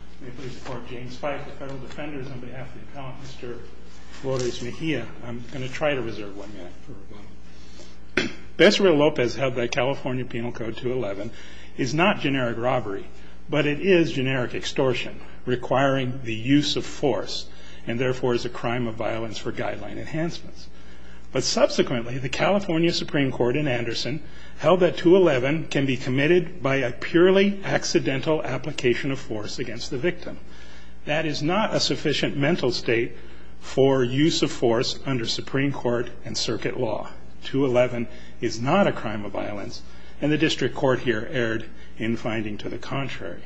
I'm going to try to reserve one minute for a moment. Bessarabia-Lopez held that California Penal Code 211 is not generic robbery, but it is generic extortion, requiring the use of force, and therefore is a crime of violence for guideline enhancements. But subsequently, the California Supreme Court in Anderson held that 211 can be committed by a purely accidental application of force against the victim. That is not a sufficient mental state for use of force under Supreme Court and circuit law. 211 is not a crime of violence, and the district court here erred in finding to the contrary.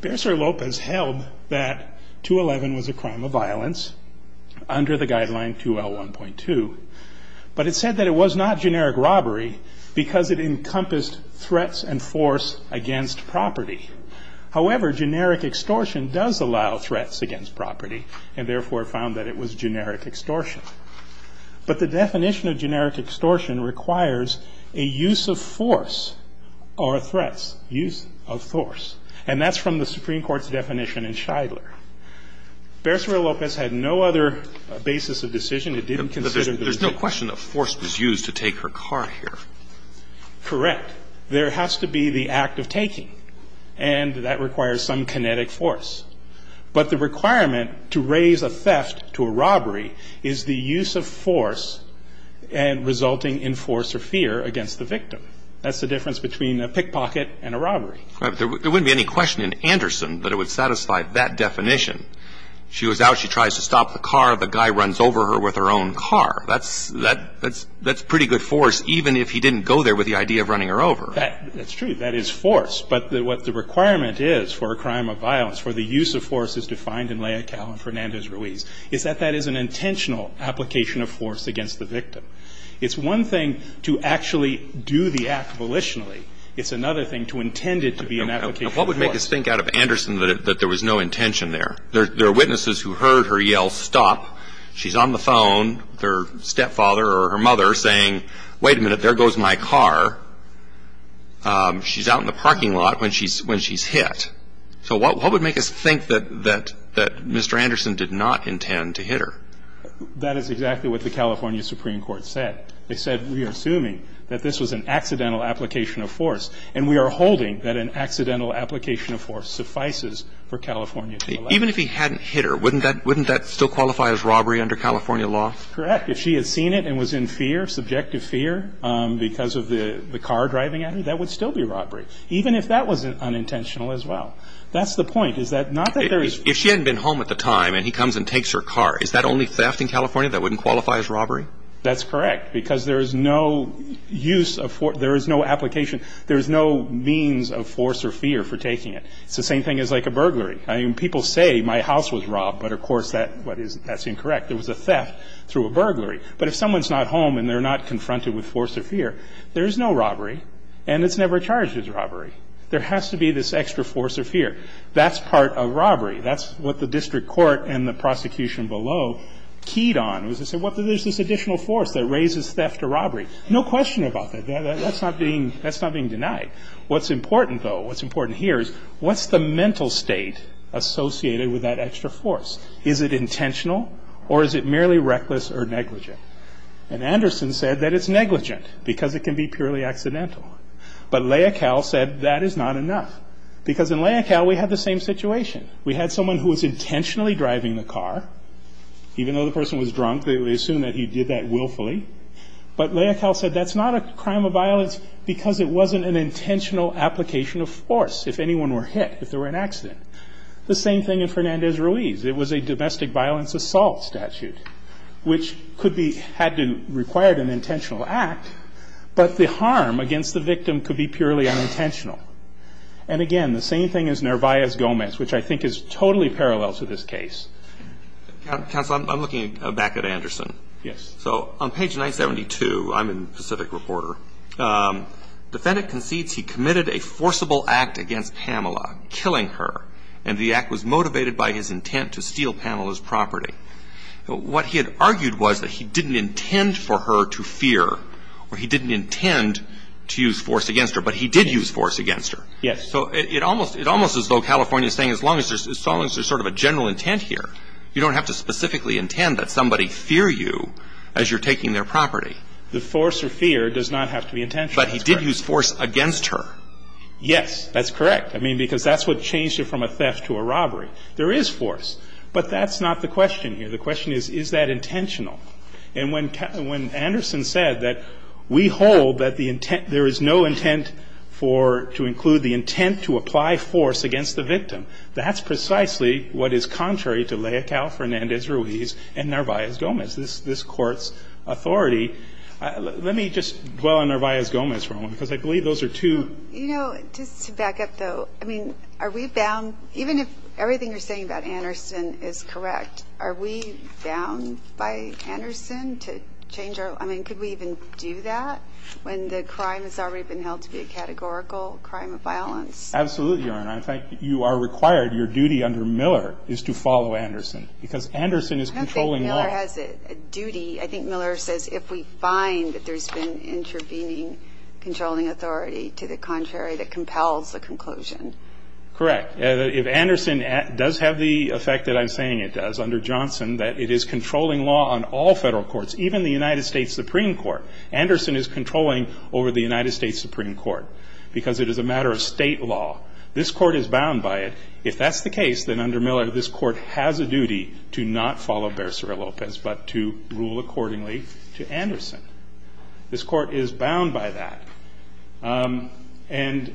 Bessarabia-Lopez held that 211 was a crime of violence under the guideline 2L1.2. But it said that it was not generic robbery because it encompassed threats and force against property. However, generic extortion does allow threats against property and therefore found that it was generic extortion. But the definition of generic extortion requires a use of force or threats. Use of force. And that's from the Supreme Court's definition in Shidler. Bessarabia-Lopez had no other basis of decision. It didn't consider the victim. But there's no question that force was used to take her car here. Correct. There has to be the act of taking, and that requires some kinetic force. But the requirement to raise a theft to a robbery is the use of force and resulting in force or fear against the victim. That's the difference between a pickpocket and a robbery. There wouldn't be any question in Anderson that it would satisfy that definition. She was out. She tries to stop the car. The guy runs over her with her own car. That's pretty good force, even if he didn't go there with the idea of running her over. That's true. That is force. But what the requirement is for a crime of violence, for the use of force as defined in Leocal and Fernandez-Ruiz, is that that is an intentional application of force against the victim. It's one thing to actually do the act volitionally. It's another thing to intend it to be an application of force. Now, what would make us think out of Anderson that there was no intention there? There are witnesses who heard her yell, stop. She's on the phone with her stepfather or her mother saying, wait a minute, there goes my car. She's out in the parking lot when she's hit. So what would make us think that Mr. Anderson did not intend to hit her? That is exactly what the California Supreme Court said. They said we are assuming that this was an accidental application of force, and we are holding that an accidental application of force suffices for California to allow. Even if he hadn't hit her, wouldn't that still qualify as robbery under California law? Correct. In fact, if she had seen it and was in fear, subjective fear, because of the car driving at her, that would still be robbery, even if that was unintentional as well. That's the point. Is that not that there is? If she hadn't been home at the time and he comes and takes her car, is that only theft in California that wouldn't qualify as robbery? That's correct, because there is no use of force. There is no application. There is no means of force or fear for taking it. It's the same thing as like a burglary. I mean, people say my house was robbed, but, of course, that's incorrect. It was a theft through a burglary. But if someone's not home and they're not confronted with force or fear, there is no robbery, and it's never charged as robbery. There has to be this extra force or fear. That's part of robbery. That's what the district court and the prosecution below keyed on was to say, well, there's this additional force that raises theft or robbery. No question about that. That's not being denied. What's important, though, what's important here is what's the mental state associated with that extra force? Is it intentional, or is it merely reckless or negligent? And Anderson said that it's negligent, because it can be purely accidental. But Leocal said that is not enough, because in Leocal we had the same situation. We had someone who was intentionally driving the car. Even though the person was drunk, they assumed that he did that willfully. But Leocal said that's not a crime of violence because it wasn't an intentional application of force, if anyone were hit, if there were an accident. The same thing in Fernandez-Ruiz. It was a domestic violence assault statute, which could be had to require an intentional act, but the harm against the victim could be purely unintentional. And, again, the same thing as Nervais-Gomez, which I think is totally parallel to this case. Counsel, I'm looking back at Anderson. Yes. So on page 972, I'm a Pacific reporter, defendant concedes he committed a forcible act against Pamela, killing her, and the act was motivated by his intent to steal Pamela's property. What he had argued was that he didn't intend for her to fear, or he didn't intend to use force against her, but he did use force against her. Yes. So it almost is though California is saying as long as there's sort of a general intent here, you don't have to specifically intend that somebody fear you as you're taking their property. The force or fear does not have to be intentional. But he did use force against her. Yes, that's correct. I mean, because that's what changed it from a theft to a robbery. There is force. But that's not the question here. The question is, is that intentional? And when Anderson said that we hold that the intent, there is no intent for, to include the intent to apply force against the victim, that's precisely what is contrary to Leocal Fernandez-Ruiz and Nervais-Gomez, this Court's authority. Let me just dwell on Nervais-Gomez for a moment, because I believe those are two. You know, just to back up though, I mean, are we bound, even if everything you're saying about Anderson is correct, are we bound by Anderson to change our, I mean, could we even do that when the crime has already been held to be a categorical crime of violence? Absolutely, Your Honor. In fact, you are required, your duty under Miller is to follow Anderson, because Anderson is controlling law. I don't think Miller has a duty. I think Miller says if we find that there's been intervening controlling authority to the contrary, that compels the conclusion. Correct. If Anderson does have the effect that I'm saying it does under Johnson, that it is controlling law on all Federal courts, even the United States Supreme Court. Anderson is controlling over the United States Supreme Court, because it is a matter of State law. This Court is bound by it. If that's the case, then under Miller, this Court has a duty to not follow Bercero-Lopez, but to rule accordingly to Anderson. This Court is bound by that. And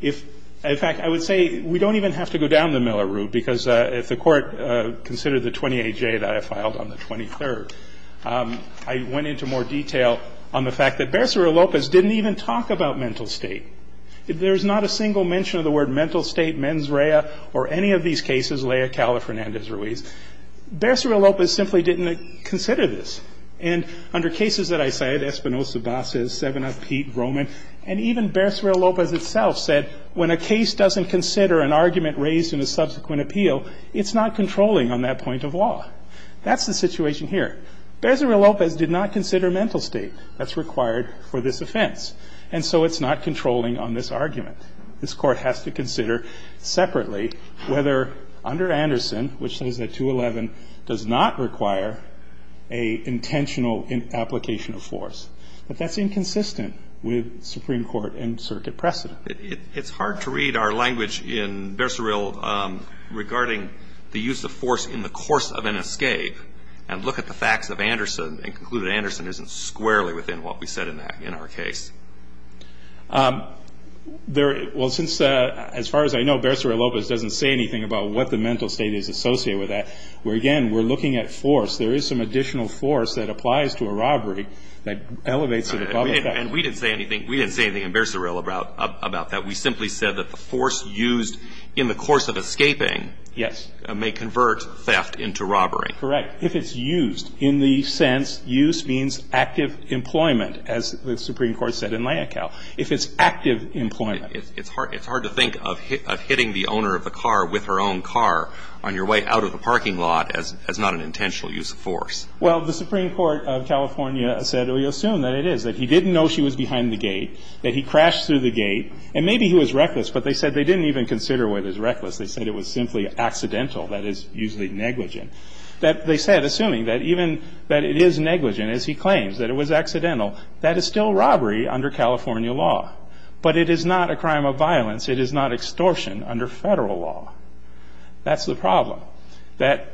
if, in fact, I would say we don't even have to go down the Miller route, because if the Court considered the 28J that I filed on the 23rd, I went into more detail on the fact that Bercero-Lopez didn't even talk about mental state. There's not a single mention of the word mental state, mens rea, or any of these cases, Lea, Cala, Fernandez, Ruiz. Bercero-Lopez simply didn't consider this. And under cases that I cited, Espinoza, Basses, Seven of Pete, Roman, and even Bercero-Lopez itself said when a case doesn't consider an argument raised in a subsequent appeal, it's not controlling on that point of law. That's the situation here. Bercero-Lopez did not consider mental state that's required for this offense, and so it's not controlling on this argument. This Court has to consider separately whether under Anderson, which says that 211 does not require an intentional application of force. But that's inconsistent with Supreme Court and circuit precedent. It's hard to read our language in Bercero-Lopez regarding the use of force in the course of an escape and look at the facts of Anderson and conclude that Anderson isn't squarely within what we said in our case. Well, since as far as I know, Bercero-Lopez doesn't say anything about what the mental state is associated with that. Again, we're looking at force. There is some additional force that applies to a robbery that elevates it above the fact. And we didn't say anything in Bercero-Lopez about that. We simply said that the force used in the course of escaping may convert theft into robbery. If it's used. In the sense, use means active employment, as the Supreme Court said in Layakau. If it's active employment. It's hard to think of hitting the owner of the car with her own car on your way out of the parking lot as not an intentional use of force. Well, the Supreme Court of California said we assume that it is, that he didn't know she was behind the gate, that he crashed through the gate, and maybe he was reckless, but they said they didn't even consider whether it was reckless. They said it was simply accidental. That is usually negligent. That they said, assuming that even that it is negligent, as he claims, that it was accidental, that is still robbery under California law. But it is not a crime of violence. It is not extortion under federal law. That's the problem. That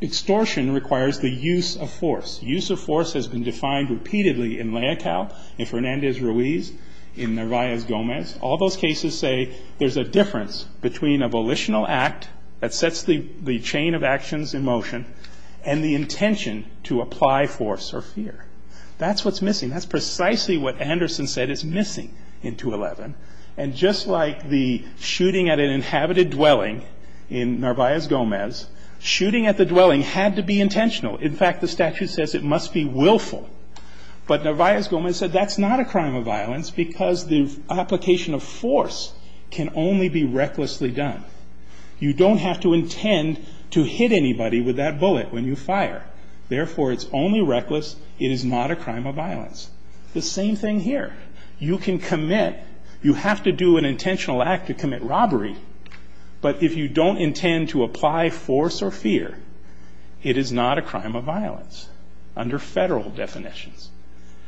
extortion requires the use of force. Use of force has been defined repeatedly in Layakau, in Fernandez-Ruiz, in Narvaez-Gomez. All those cases say there's a difference between a volitional act that sets the chain of motion and the intention to apply force or fear. That's what's missing. That's precisely what Anderson said is missing in 211. And just like the shooting at an inhabited dwelling in Narvaez-Gomez, shooting at the dwelling had to be intentional. In fact, the statute says it must be willful. But Narvaez-Gomez said that's not a crime of violence because the application of force can only be recklessly done. You don't have to intend to hit anybody with that bullet when you fire. Therefore, it's only reckless. It is not a crime of violence. The same thing here. You can commit. You have to do an intentional act to commit robbery. But if you don't intend to apply force or fear, it is not a crime of violence under Federal definitions.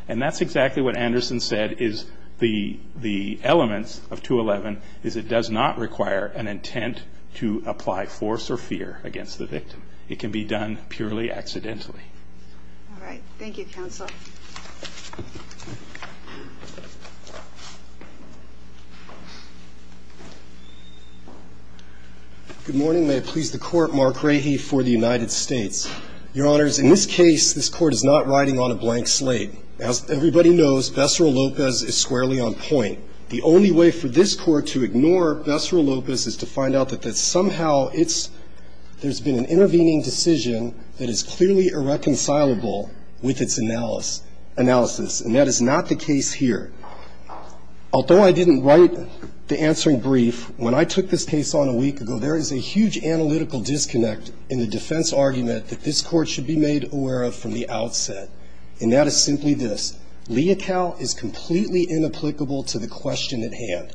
And that's exactly what Anderson said is the elements of 211 is it does not require an intent to apply force or fear against the victim. It can be done purely accidentally. All right. Thank you, counsel. Good morning. May it please the Court. Mark Rahe for the United States. Your Honors, in this case, this Court is not riding on a blank slate. As everybody knows, Bessara Lopez is squarely on point. The only way for this Court to ignore Bessara Lopez is to find out that somehow there's been an intervening decision that is clearly irreconcilable with its analysis, and that is not the case here. Although I didn't write the answering brief, when I took this case on a week ago, there is a huge analytical disconnect in the defense argument that this Court should be made aware of from the outset, and that is simply this. Leocal is completely inapplicable to the question at hand.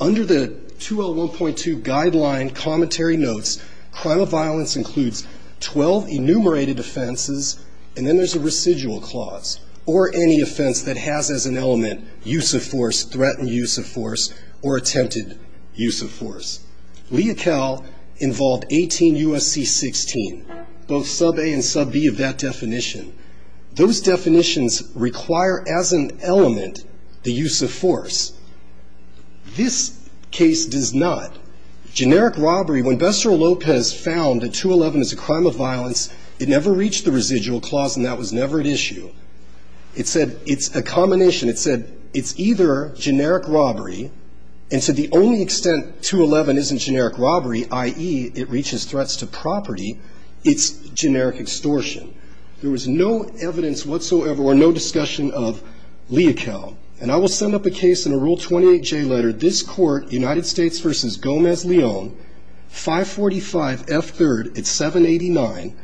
Under the 201.2 guideline commentary notes, crime of violence includes 12 enumerated offenses, and then there's a residual clause, or any offense that has as an element use of force, threatened use of force, or attempted use of force. Leocal involved 18 U.S.C. 16, both sub-A and sub-B of that definition. Those definitions require as an element the use of force. This case does not. Generic robbery, when Bessara Lopez found that 211 is a crime of violence, it never reached the residual clause, and that was never at issue. It said it's a combination. It said it's either generic robbery, and to the only extent 211 isn't generic robbery, i.e., it reaches threats to property, it's generic extortion. There was no evidence whatsoever or no discussion of leocal, and I will send up a case in a Rule 28J letter. This Court, United States v. Gomez-Leon, 545F3rd at 789.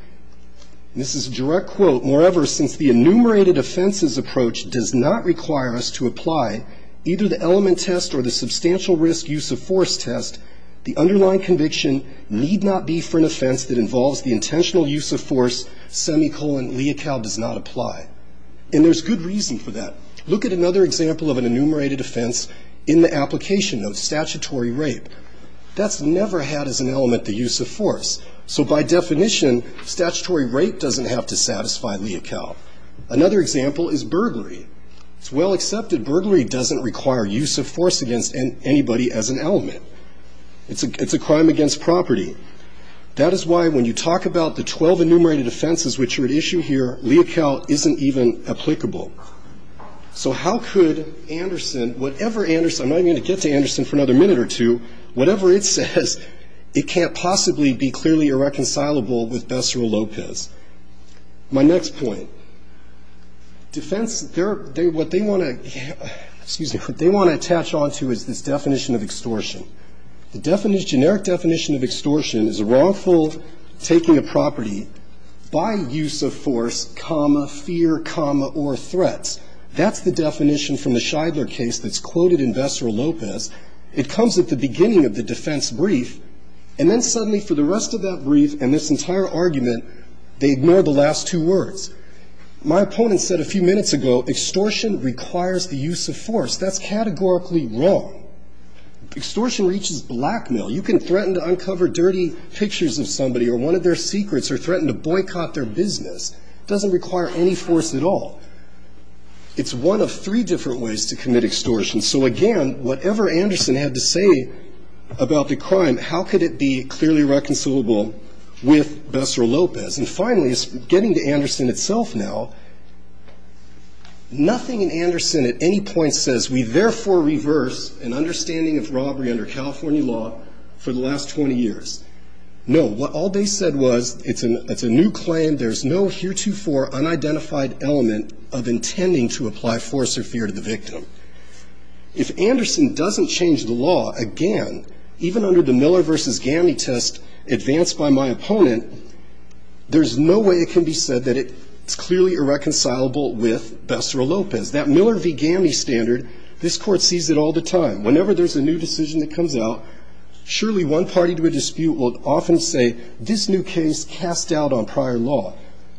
This is a direct quote. Moreover, since the enumerated offenses approach does not require us to apply either the element test or the substantial risk use of force test, the underlying conviction need not be for an offense that involves the intentional use of force semicolon leocal does not apply, and there's good reason for that. Look at another example of an enumerated offense in the application notes, statutory rape. That's never had as an element the use of force, so by definition statutory rape doesn't have to satisfy leocal. Another example is burglary. It's well accepted burglary doesn't require use of force against anybody as an element. It's a crime against property. That is why when you talk about the 12 enumerated offenses which are at issue here, leocal isn't even applicable. So how could Anderson, whatever Anderson, I'm not even going to get to Anderson for another minute or two, whatever it says it can't possibly be clearly irreconcilable with Becerra-Lopez. My next point. Defense, what they want to attach on to is this definition of extortion. The generic definition of extortion is a wrongful taking a property by use of force, comma, fear, comma, or threats. That's the definition from the Shidler case that's quoted in Becerra-Lopez. It comes at the beginning of the defense brief, and then suddenly for the rest of that brief and this entire argument they ignore the last two words. My opponent said a few minutes ago extortion requires the use of force. That's categorically wrong. Extortion reaches blackmail. You can threaten to uncover dirty pictures of somebody or one of their secrets or threaten to boycott their business. It doesn't require any force at all. It's one of three different ways to commit extortion. So, again, whatever Anderson had to say about the crime, how could it be clearly reconcilable with Becerra-Lopez? And finally, getting to Anderson itself now, nothing in Anderson at any point says we therefore reverse an understanding of robbery under California law for the last 20 years. No, what all they said was it's a new claim, there's no heretofore unidentified element of intending to apply force or fear to the victim. If Anderson doesn't change the law, again, even under the Miller v. Gamney test advanced by my opponent, there's no way it can be said that it's clearly irreconcilable with Becerra-Lopez. That Miller v. Gamney standard, this Court sees it all the time. Whenever there's a new decision that comes out, surely one party to a dispute will often say this new case casts doubt on prior law.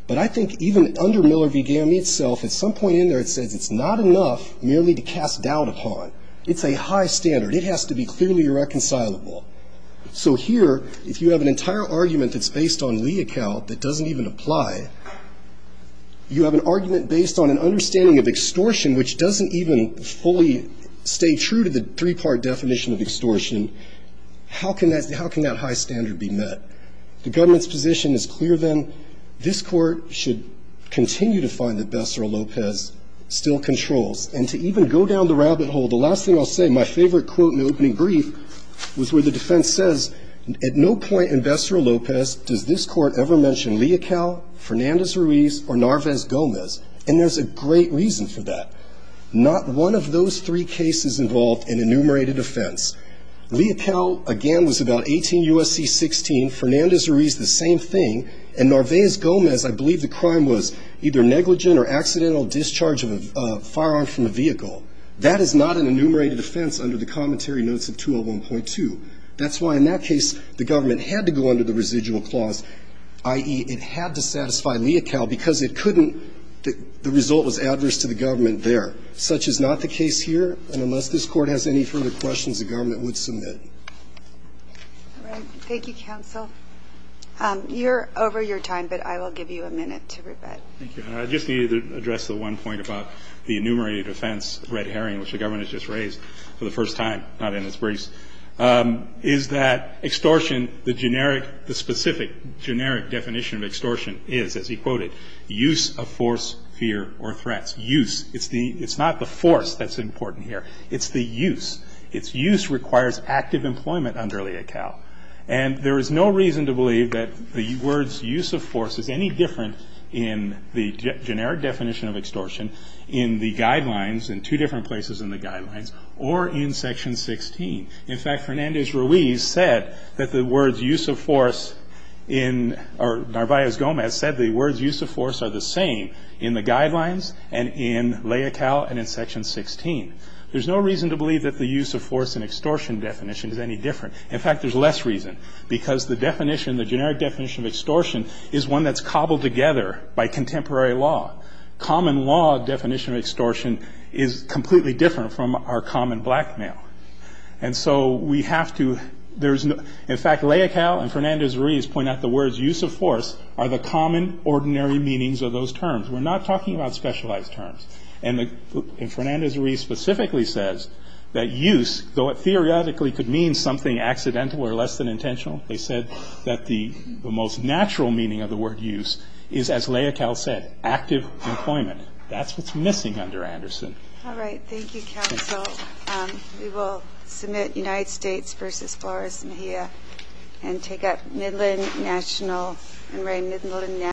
But I think even under Miller v. Gamney itself, at some point in there it says it's not enough merely to cast doubt upon. It's a high standard. It has to be clearly irreconcilable. So here, if you have an entire argument that's based on Lee account that doesn't even apply, you have an argument based on an understanding of extortion, which doesn't even fully stay true to the three-part definition of extortion, how can that high standard be met? The government's position is clear, then. This Court should continue to find that Becerra-Lopez still controls. And to even go down the rabbit hole, the last thing I'll say, my favorite quote in the opening brief was where the defense says, at no point in Becerra-Lopez does this Court ever mention Leocal, Fernandez-Ruiz, or Narvaez-Gomez. And there's a great reason for that. Not one of those three cases involved an enumerated offense. Leocal, again, was about 18 U.S.C. 16. Fernandez-Ruiz, the same thing. And Narvaez-Gomez, I believe the crime was either negligent or accidental discharge of a firearm from a vehicle. That is not an enumerated offense under the commentary notes of 201.2. That's why in that case the government had to go under the residual clause, i.e., it had to satisfy Leocal because it couldn't the result was adverse to the government there. Such is not the case here. And unless this Court has any further questions, the government would submit. All right. Thank you, counsel. You're over your time, but I will give you a minute to rebut. Thank you. I just need to address the one point about the enumerated offense, red herring, which the government has just raised for the first time, not in its briefs. Is that extortion, the generic, the specific generic definition of extortion is, as he quoted, use of force, fear, or threats. Use. It's not the force that's important here. It's the use. It's use requires active employment under Leocal. And there is no reason to believe that the words use of force is any different in the generic definition of extortion in the guidelines, in two different places in the guidelines, or in Section 16. In fact, Fernandez Ruiz said that the words use of force in or Narvaez Gomez said the words use of force are the same in the guidelines and in Leocal and in Section 16. There's no reason to believe that the use of force in extortion definition is any different. In fact, there's less reason, because the definition, the generic definition of extortion, is one that's cobbled together by contemporary law. Common law definition of extortion is completely different from our common blackmail. And so we have to, there's, in fact, Leocal and Fernandez Ruiz point out the words use of force are the common, ordinary meanings of those terms. We're not talking about specialized terms. And Fernandez Ruiz specifically says that use, though it theoretically could mean something accidental or less than intentional, they said that the most natural meaning of the word use is, as Leocal said, active employment. That's what's missing under Anderson. All right. Thank you, counsel. We will submit United States v. Flores-Mejia and take up Midland National and Ray Midland National.